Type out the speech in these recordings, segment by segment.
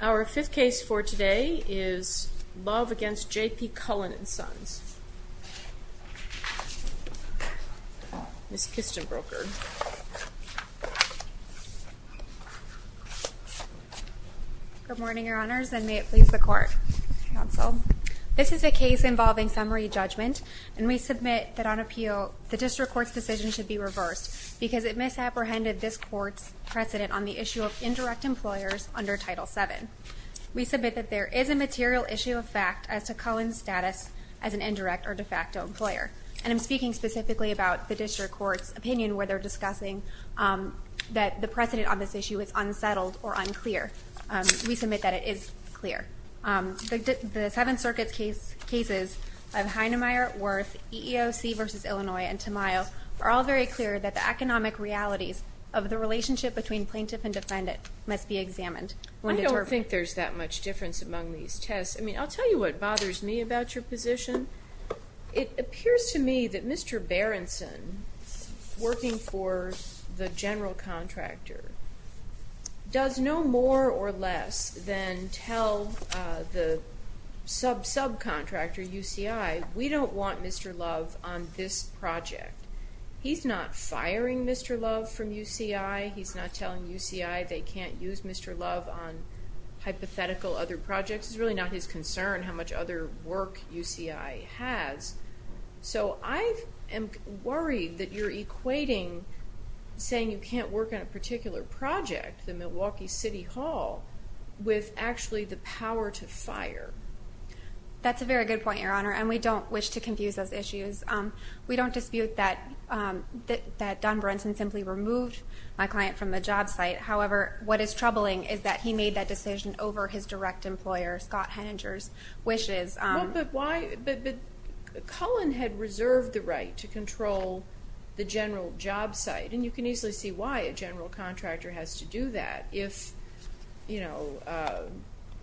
Our fifth case for today is Love v. JP Cullen & Sons. Ms. Kistenbroker. Good morning, Your Honors, and may it please the Court, Counsel. This is a case involving summary judgment, and we submit that on appeal, the District Court's decision should be reversed because it misapprehended this Court's precedent on the issue of indirect employers under Title VII. We submit that there is a material issue of fact as to Cullen's status as an indirect or de facto employer, and I'm speaking specifically about the District Court's opinion where they're discussing that the precedent on this issue is unsettled or unclear. We submit that it is clear. The Seventh Circuit's cases of Hinemeyer v. Worth, EEOC v. Illinois, and Tamayo are all very clear that the economic realities of the relationship between plaintiff and defendant must be examined. I don't think there's that much difference among these tests. I mean, I'll tell you what bothers me about your position. It appears to me that Mr. Berenson, working for the general contractor, does no more or less than tell the sub-subcontractor, UCI, we don't want Mr. Love on this project. He's not firing Mr. Love from UCI. He's not telling UCI they can't use Mr. Love on hypothetical other projects. It's really not his concern how much other work UCI has. So I am worried that you're equating saying you can't work on a particular project, the Milwaukee City Hall, with actually the power to fire. That's a very good point, Your Honor, and we don't wish to confuse those issues. We don't dispute that Don Berenson simply removed my client from the job site. However, what is troubling is that he made that decision over his direct employer, Scott Henninger's wishes. But why? But Cullen had reserved the right to control the general job site, and you can easily see why a general contractor has to do that. If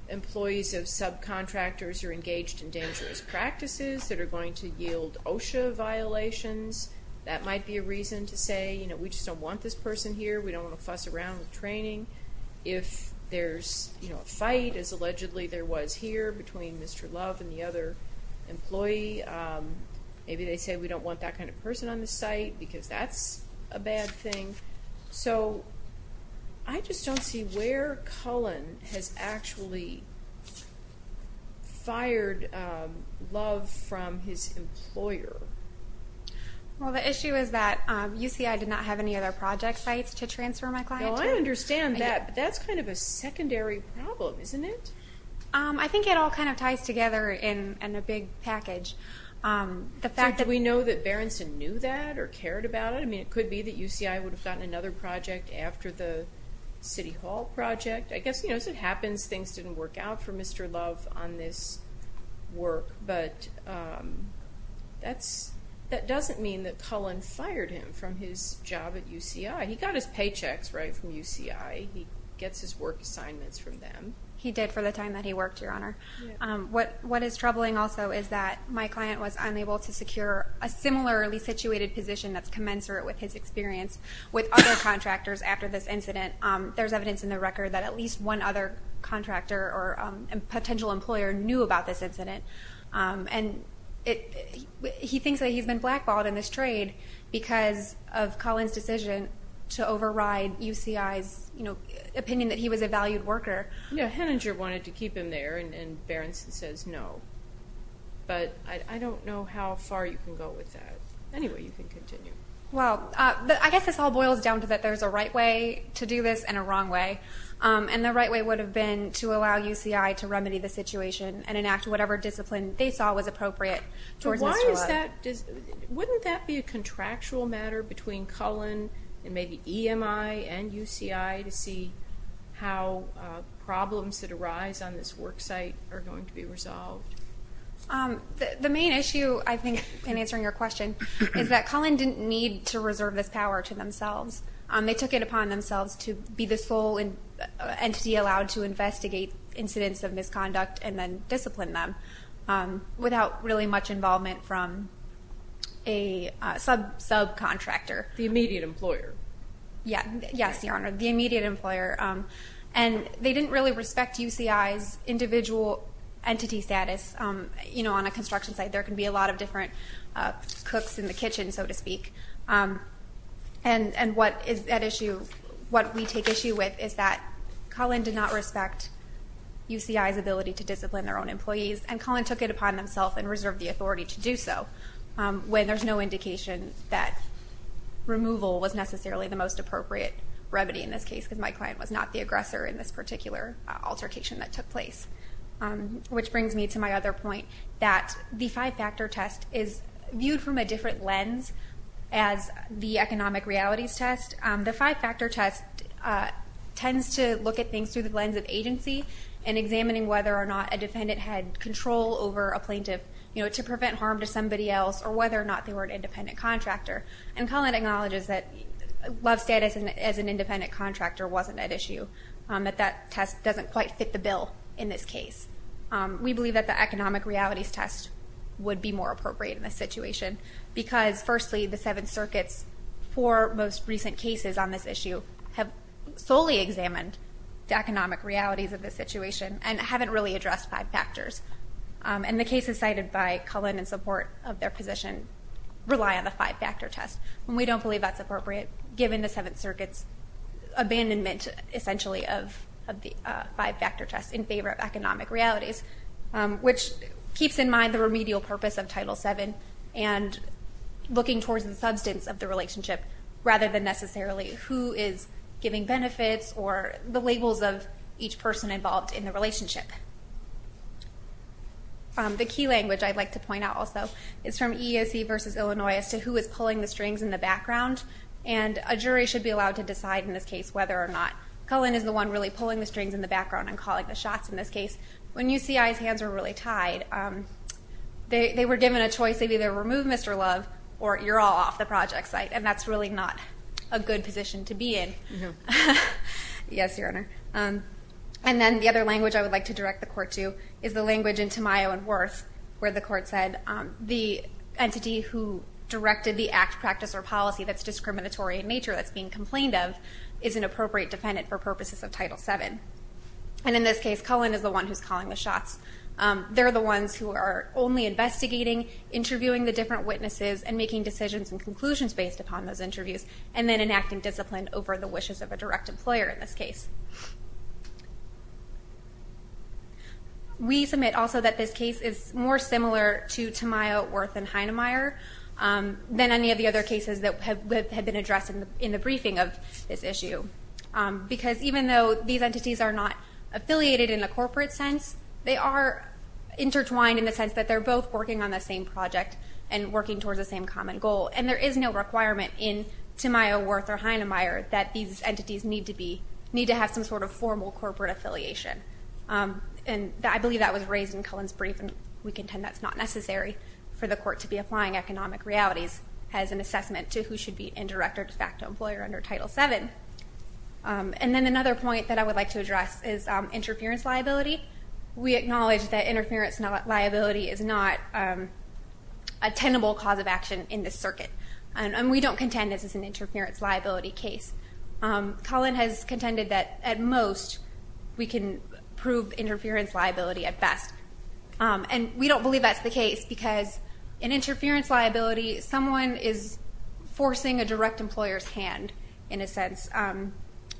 employees of subcontractors are engaged in dangerous practices that are going to yield OSHA violations, that might be a reason to say, you know, we just don't want this person here. We don't want to fuss around with training. If there's a fight, as allegedly there was here between Mr. Love and the other employee, maybe they say we don't want that kind of person on the site because that's a bad thing. So I just don't see where Cullen has actually fired Love from his employer. Well, the issue is that UCI did not have any other project sites to transfer my client to. No, I understand that, but that's kind of a secondary problem, isn't it? I think it all kind of ties together in a big package. Do we know that Berenson knew that or cared about it? I mean, it could be that UCI would have gotten another project after the City Hall project. I guess, you know, as it happens, things didn't work out for Mr. Love on this work. But that doesn't mean that Cullen fired him from his job at UCI. He got his paychecks, right, from UCI. He gets his work assignments from them. He did for the time that he worked, Your Honor. What is troubling also is that my client was unable to secure a similarly situated position that's commensurate with his experience with other contractors after this incident. There's evidence in the record that at least one other contractor or potential employer knew about this incident. And he thinks that he's been blackballed in this trade because of Cullen's decision to override UCI's opinion that he was a valued worker. Yeah, Henninger wanted to keep him there, and Berenson says no. But I don't know how far you can go with that. Anyway, you can continue. Well, I guess this all boils down to that there's a right way to do this and a wrong way. And the right way would have been to allow UCI to remedy the situation and enact whatever discipline they saw was appropriate towards Mr. Love. Wouldn't that be a contractual matter between Cullen and maybe EMI and UCI to see how problems that arise on this work site are going to be resolved? The main issue, I think, in answering your question, is that Cullen didn't need to reserve this power to themselves. They took it upon themselves to be the sole entity allowed to investigate incidents of misconduct and then discipline them without really much involvement from a subcontractor. The immediate employer. Yes, Your Honor, the immediate employer. And they didn't really respect UCI's individual entity status. On a construction site, there can be a lot of different cooks in the kitchen, so to speak. And what we take issue with is that Cullen did not respect UCI's ability to discipline their own employees, and Cullen took it upon themselves and reserved the authority to do so when there's no indication that removal was necessarily the most appropriate remedy in this case because my client was not the aggressor in this particular altercation that took place. Which brings me to my other point that the five-factor test is viewed from a different lens as the economic realities test. The five-factor test tends to look at things through the lens of agency and examining whether or not a defendant had control over a plaintiff to prevent harm to somebody else or whether or not they were an independent contractor. And Cullen acknowledges that love status as an independent contractor wasn't at issue, that that test doesn't quite fit the bill in this case. We believe that the economic realities test would be more appropriate in this situation because, firstly, the Seventh Circuit's four most recent cases on this issue have solely examined the economic realities of the situation and haven't really addressed five factors. And the cases cited by Cullen in support of their position rely on the five-factor test. And we don't believe that's appropriate given the Seventh Circuit's abandonment, essentially, of the five-factor test in favor of economic realities, which keeps in mind the remedial purpose of Title VII and looking towards the substance of the relationship rather than necessarily who is giving benefits or the labels of each person involved in the relationship. The key language I'd like to point out also is from EEOC v. Illinois as to who is pulling the strings in the background, and a jury should be allowed to decide in this case whether or not Cullen is the one really pulling the strings in the background and calling the shots in this case. When UCI's hands were really tied, they were given a choice. They'd either remove Mr. Love or you're all off the project site, and that's really not a good position to be in. Yes, Your Honor. And then the other language I would like to direct the court to is the language in Tamayo and Worth where the court said the entity who directed the act, practice, or policy that's discriminatory in nature, that's being complained of, is an appropriate defendant for purposes of Title VII. And in this case, Cullen is the one who's calling the shots. They're the ones who are only investigating, interviewing the different witnesses, and making decisions and conclusions based upon those interviews and then enacting discipline over the wishes of a direct employer in this case. We submit also that this case is more similar to Tamayo, Worth, and Heinemeier than any of the other cases that have been addressed in the briefing of this issue because even though these entities are not affiliated in a corporate sense, they are intertwined in the sense that they're both working on the same project and working towards the same common goal, and there is no requirement in Tamayo, Worth, or Heinemeier that these entities need to have some sort of formal corporate affiliation. And I believe that was raised in Cullen's brief, and we contend that's not necessary for the court to be applying economic realities as an assessment to who should be in direct or de facto employer under Title VII. And then another point that I would like to address is interference liability. We acknowledge that interference liability is not a tenable cause of action in this circuit, and we don't contend this is an interference liability case. Cullen has contended that at most we can prove interference liability at best, and we don't believe that's the case because in interference liability, someone is forcing a direct employer's hand in a sense.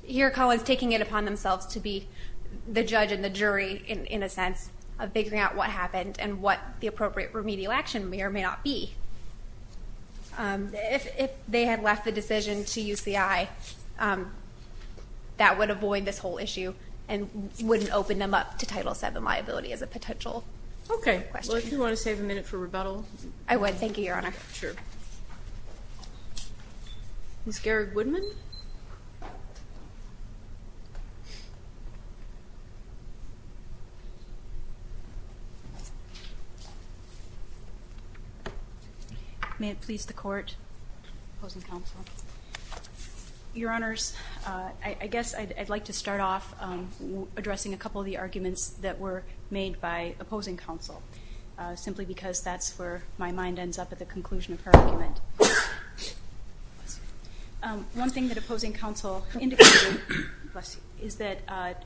Here Cullen is taking it upon themselves to be the judge and the jury in a sense of figuring out what happened and what the appropriate remedial action may or may not be. If they had left the decision to UCI, that would avoid this whole issue and wouldn't open them up to Title VII liability as a potential question. Okay. Well, if you want to save a minute for rebuttal. I would. Thank you, Your Honor. Sure. Ms. Garrig-Woodman? May it please the Court? Opposing counsel? Your Honors, I guess I'd like to start off addressing a couple of the arguments that were made by opposing counsel simply because that's where my mind ends up at the conclusion of her argument. One thing that opposing counsel indicated is that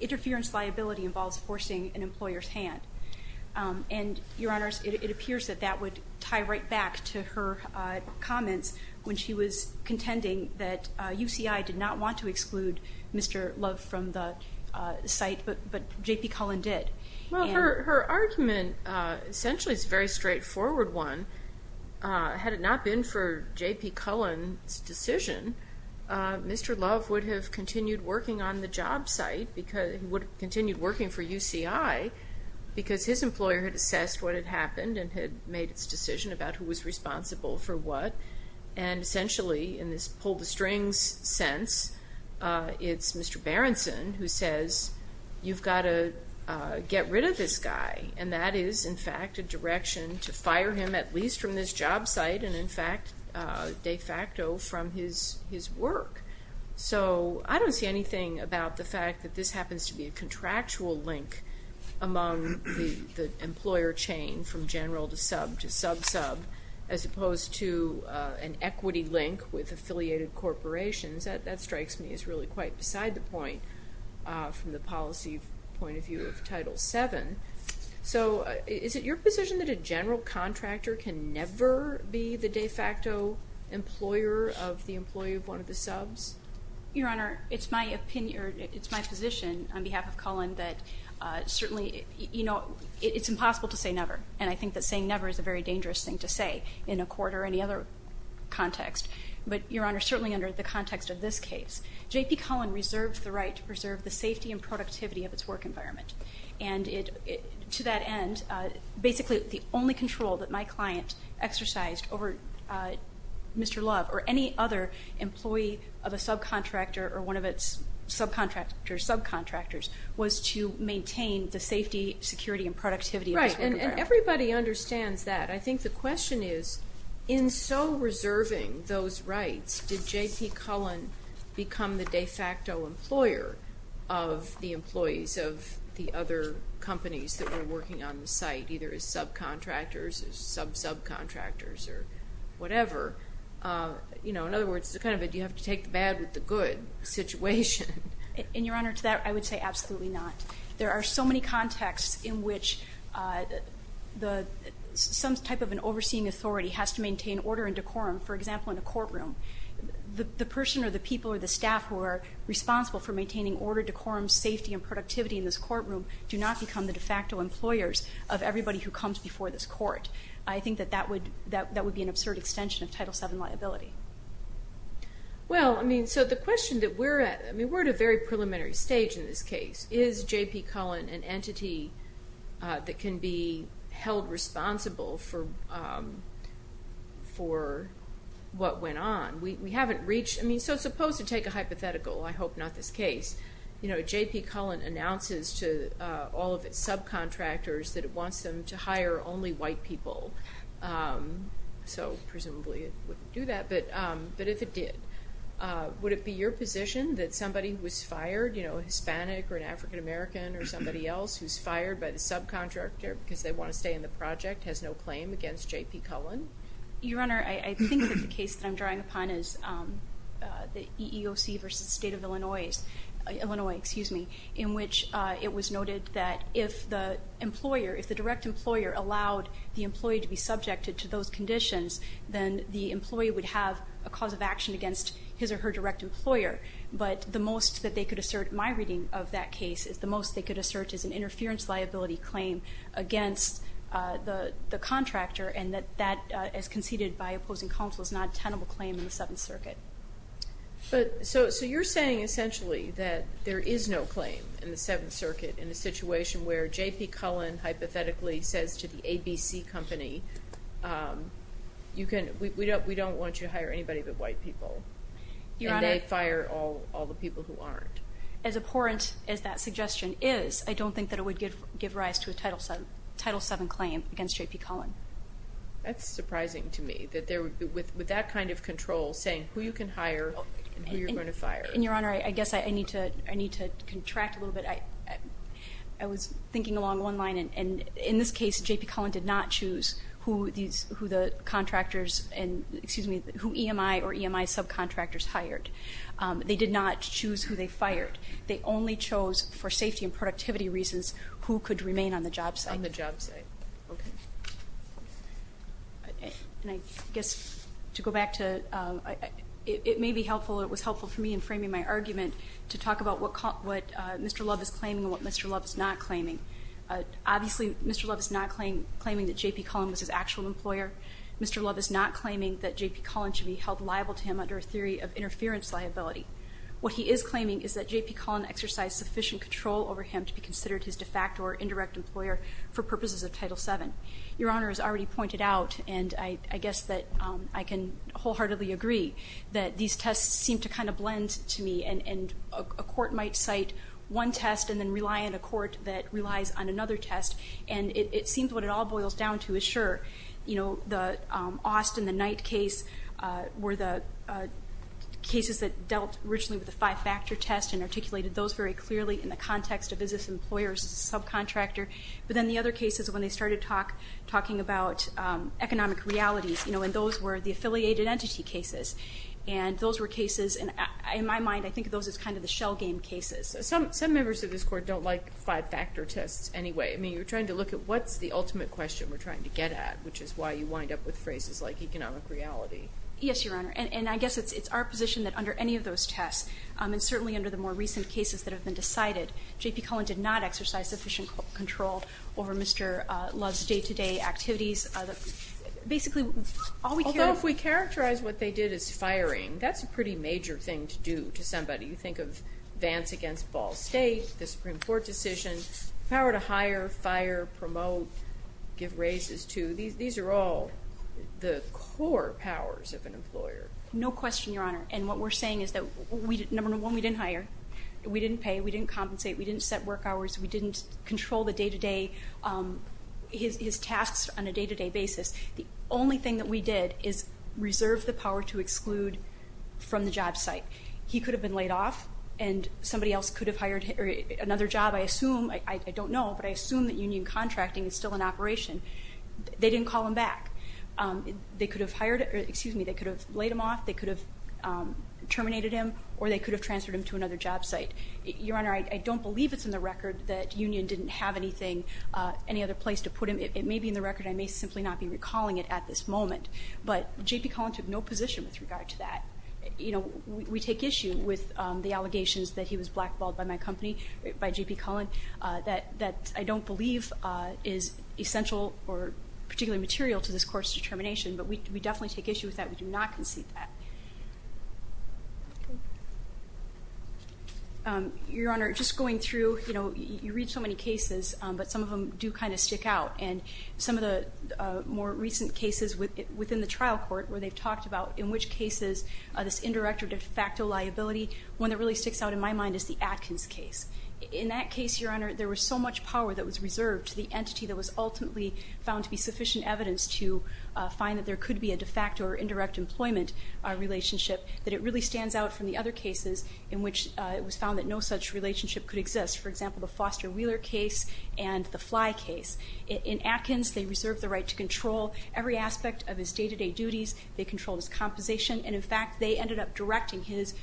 interference liability involves forcing an employer's hand. And, Your Honors, it appears that that would tie right back to her comments when she was contending that UCI did not want to exclude Mr. Love from the site, but J.P. Cullen did. Well, her argument essentially is a very straightforward one. Had it not been for J.P. Cullen's decision, Mr. Love would have continued working on the job site. He would have continued working for UCI because his employer had assessed what had happened and had made its decision about who was responsible for what. And, essentially, in this pull-the-strings sense, it's Mr. Berenson who says, you've got to get rid of this guy. And that is, in fact, a direction to fire him at least from this job site and, in fact, de facto from his work. So I don't see anything about the fact that this happens to be a contractual link among the employer chain from general to sub to sub-sub as opposed to an equity link with affiliated corporations. That strikes me as really quite beside the point from the policy point of view of Title VII. So is it your position that a general contractor can never be the de facto employer of the employee of one of the subs? Your Honor, it's my position on behalf of Cullen that certainly it's impossible to say never. And I think that saying never is a very dangerous thing to say in a court or any other context. But, Your Honor, certainly under the context of this case, J.P. Cullen reserved the right to preserve the safety and productivity of its work environment. And to that end, basically the only control that my client exercised over Mr. Love or any other employee of a subcontractor or one of its subcontractors was to maintain the safety, security, and productivity of its work environment. Right. And everybody understands that. I think the question is in so reserving those rights, did J.P. Cullen become the de facto employer of the employees of the other companies that were working on the site, either as subcontractors or sub-subcontractors or whatever? In other words, you have to take the bad with the good situation. And, Your Honor, to that I would say absolutely not. There are so many contexts in which some type of an overseeing authority has to maintain order and decorum, for example, in a courtroom. The person or the people or the staff who are responsible for maintaining order, decorum, safety, and productivity in this courtroom do not become the de facto employers of everybody who comes before this court. I think that that would be an absurd extension of Title VII liability. Well, I mean, so the question that we're at, I mean, we're at a very preliminary stage in this case. Is J.P. Cullen an entity that can be held responsible for what went on? We haven't reached, I mean, so supposed to take a hypothetical, I hope not this case, you know, J.P. Cullen announces to all of its subcontractors that it wants them to hire only white people, so presumably it wouldn't do that. But if it did, would it be your position that somebody who was fired, you know, Hispanic or an African-American or somebody else who's fired by the subcontractor because they want to stay in the project has no claim against J.P. Cullen? Your Honor, I think that the case that I'm drawing upon is the EEOC versus the State of Illinois, Illinois, excuse me, in which it was noted that if the employer, if the direct employer allowed the employee to be subjected to those conditions, then the employee would have a cause of action against his or her direct employer. But the most that they could assert, my reading of that case, is the most they could assert is an interference liability claim against the contractor and that that, as conceded by opposing counsel, is not a tenable claim in the Seventh Circuit. So you're saying essentially that there is no claim in the Seventh Circuit in a situation where J.P. Cullen hypothetically says to the ABC company, we don't want you to hire anybody but white people. Your Honor. And they fire all the people who aren't. As abhorrent as that suggestion is, I don't think that it would give rise to a Title VII claim against J.P. Cullen. That's surprising to me that with that kind of control saying who you can hire and who you're going to fire. And Your Honor, I guess I need to contract a little bit. I was thinking along one line and in this case J.P. Cullen did not choose who the contractors and, excuse me, who EMI or EMI subcontractors hired. They did not choose who they fired. They only chose for safety and productivity reasons who could remain on the job site. On the job site. Okay. And I guess to go back to it may be helpful or it was helpful for me in framing my argument to talk about what Mr. Love is claiming and what Mr. Love is not claiming. Obviously Mr. Love is not claiming that J.P. Cullen was his actual employer. Mr. Love is not claiming that J.P. Cullen should be held liable to him under a theory of interference liability. What he is claiming is that J.P. Cullen exercised sufficient control over him to be considered his de facto or indirect employer for purposes of Title VII. Your Honor has already pointed out, and I guess that I can wholeheartedly agree, that these tests seem to kind of blend to me and a court might cite one that relies on another test and it seems what it all boils down to is sure. You know, the Austin, the Knight case were the cases that dealt originally with the five factor test and articulated those very clearly in the context of is this employer or is this subcontractor. But then the other cases when they started talking about economic realities, you know, and those were the affiliated entity cases. And those were cases, in my mind, I think of those as kind of the shell game cases. Some members of this court don't like five factor tests anyway. I mean, you're trying to look at what's the ultimate question we're trying to get at, which is why you wind up with phrases like economic reality. Yes, Your Honor. And I guess it's our position that under any of those tests and certainly under the more recent cases that have been decided, J.P. Cullen did not exercise sufficient control over Mr. Love's day to day activities. Basically, although if we characterize what they did is firing, that's a pretty major thing to do to somebody. You think of Vance against Ball State, the Supreme Court decision, power to hire, fire, promote, give raises to. These are all the core powers of an employer. No question, Your Honor. And what we're saying is that number one, we didn't hire. We didn't pay. We didn't compensate. We didn't set work hours. We didn't control the day to day, his tasks on a day to day basis. The only thing that we did is reserve the power to exclude from the job site. He could have been laid off and somebody else could have hired another job. I assume, I don't know, but I assume that union contracting is still in operation. They didn't call him back. They could have hired, excuse me, they could have laid him off. They could have terminated him or they could have transferred him to another job site. Your Honor, I don't believe it's in the record that union didn't have anything, any other place to put him. It may be in the record. I may simply not be recalling it at this moment, but J.P. Cullen took no position with regard to that. You know, we take issue with the allegations that he was blackballed by my company, by J.P. Cullen, that I don't believe is essential or particularly material to this court's determination. But we definitely take issue with that. We do not concede that. Your Honor, just going through, you know, you read so many cases, but some of them do kind of stick out. And some of the more recent cases within the trial court where they've talked about in which cases this indirect or de facto liability, one that really sticks out in my mind is the Atkins case. In that case, Your Honor, there was so much power that was reserved to the entity that was ultimately found to be sufficient evidence to find that there could be a de facto or indirect employment relationship, that it really stands out from the other cases in which it was found that no such relationship could exist. For example, the Foster Wheeler case and the Fly case. In Atkins, they reserved the right to control every aspect of his day-to-day duties. They controlled his compensation. And in fact, they ended up directing his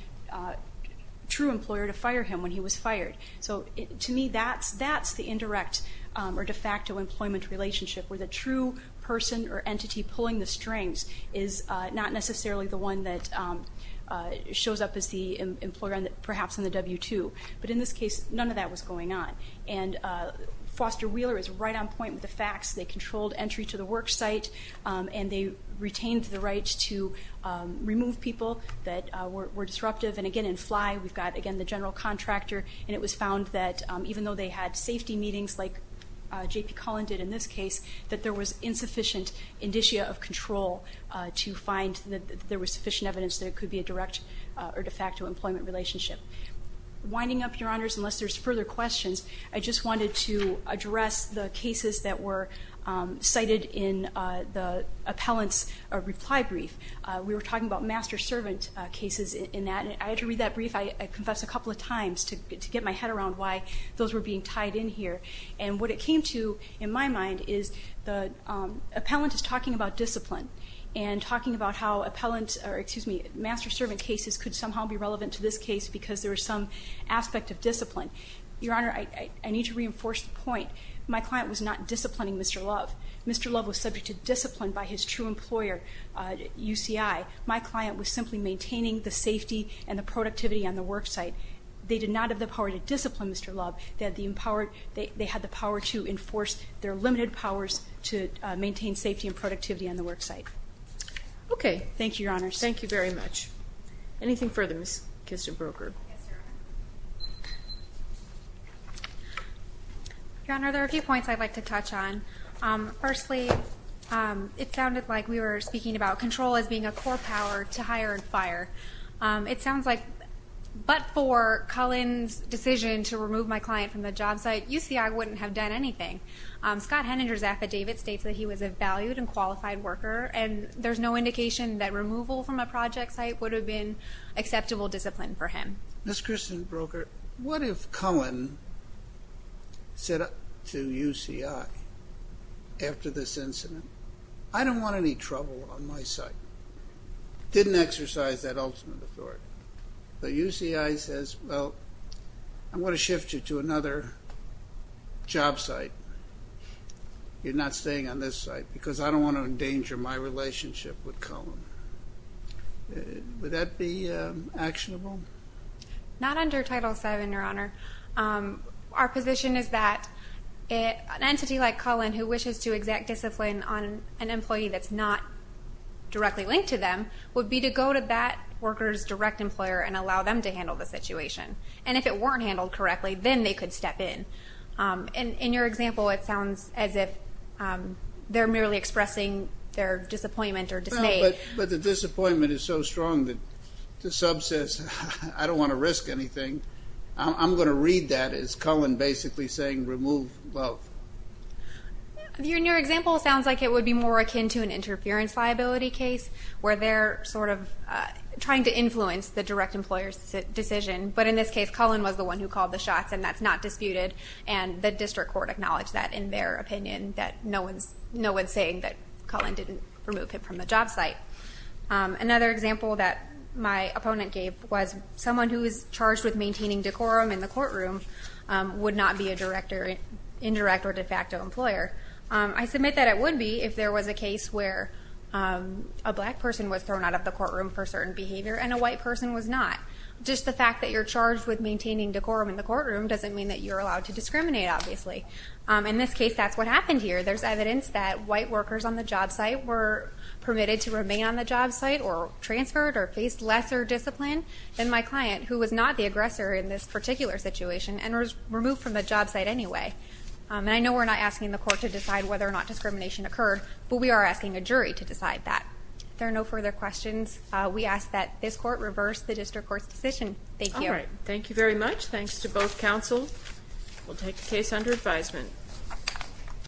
true employer to fire him when he was fired. So to me, that's the indirect or de facto employment relationship, where the true person or entity pulling the strings is not necessarily the one that shows up as the employer, perhaps in the W-2. But in this case, none of that was going on. And Foster Wheeler is right on point with the facts. They controlled entry to the work site, and they retained the right to remove people that were disruptive. And again, in Fly, we've got, again, the general contractor. And it was found that even though they had safety meetings, like J.P. Cullen did in this case, that there was insufficient indicia of control to find that there was sufficient evidence that it could be a direct or de facto employment relationship. Winding up, Your Honors, unless there's further questions, I just wanted to address the cases that were cited in the appellant's reply brief. We were talking about master-servant cases in that. And I had to read that brief, I confess, a couple of times to get my head around why those were being tied in here. And what it came to, in my mind, is the appellant is talking about discipline and talking about how appellant, or excuse me, master-servant cases could somehow be relevant to this case because there was some aspect of discipline. Your Honor, I need to reinforce the point. My client was not disciplining Mr. Love. Mr. Love was subject to discipline by his true employer, UCI. My client was simply maintaining the safety and the productivity on the worksite. They did not have the power to discipline Mr. Love. They had the power to enforce their limited powers to maintain safety and productivity on the worksite. Okay. Thank you, Your Honors. Thank you very much. Anything further, Ms. Kistenbroker? Yes, Your Honor, there are a few points I'd like to touch on. Firstly, it sounded like we were speaking about control as being a core power to hire and fire. It sounds like, but for Cullen's decision to remove my client from the job site, UCI wouldn't have done anything. Scott Henninger's affidavit states that he was a valued and qualified worker, and there's no indication that removal from a project site would have been acceptable discipline for him. Ms. Kistenbroker, what if Cullen said to UCI, after this incident, I don't want any trouble on my site. Didn't exercise that ultimate authority. But UCI says, well, I'm going to shift you to another job site. You're not staying on this site because I don't want to endanger my relationship with Cullen. Would that be actionable? Not under Title VII, Your Honor. Our position is that an entity like Cullen, who wishes to exact discipline on an employee that's not directly linked to them, would be to go to that worker's direct employer and allow them to handle the situation. And if it weren't handled correctly, then they could step in. In your example, it sounds as if they're merely expressing their disappointment or dismay. But the disappointment is so strong that the sub says, I don't want to risk anything. I'm going to read that as Cullen basically saying, remove both. In your example, it sounds like it would be more akin to an interference liability case, where they're sort of trying to influence the direct employer's decision. But in this case, Cullen was the one who called the shots, and that's not disputed. And the district court acknowledged that in their opinion, that no one's saying that Cullen didn't remove him from the job site. Another example that my opponent gave was someone who is charged with maintaining decorum in the courtroom would not be a direct or indirect or de facto employer. I submit that it would be if there was a case where a black person was thrown out of the courtroom for certain behavior and a white person was not. Just the fact that you're charged with maintaining decorum in the courtroom doesn't mean that you're allowed to discriminate, obviously. In this case, that's what happened here. There's evidence that white workers on the job site were permitted to remain on the job site or transferred or faced lesser discipline than my client, who was not the aggressor in this particular situation and was removed from the job site anyway. And I know we're not asking the court to decide whether or not discrimination occurred, but we are asking a jury to decide that. If there are no further questions, we ask that this court reverse the district court's decision. Thank you. All right. Thank you very much. Thanks to both counsel. We'll take the case under advisement.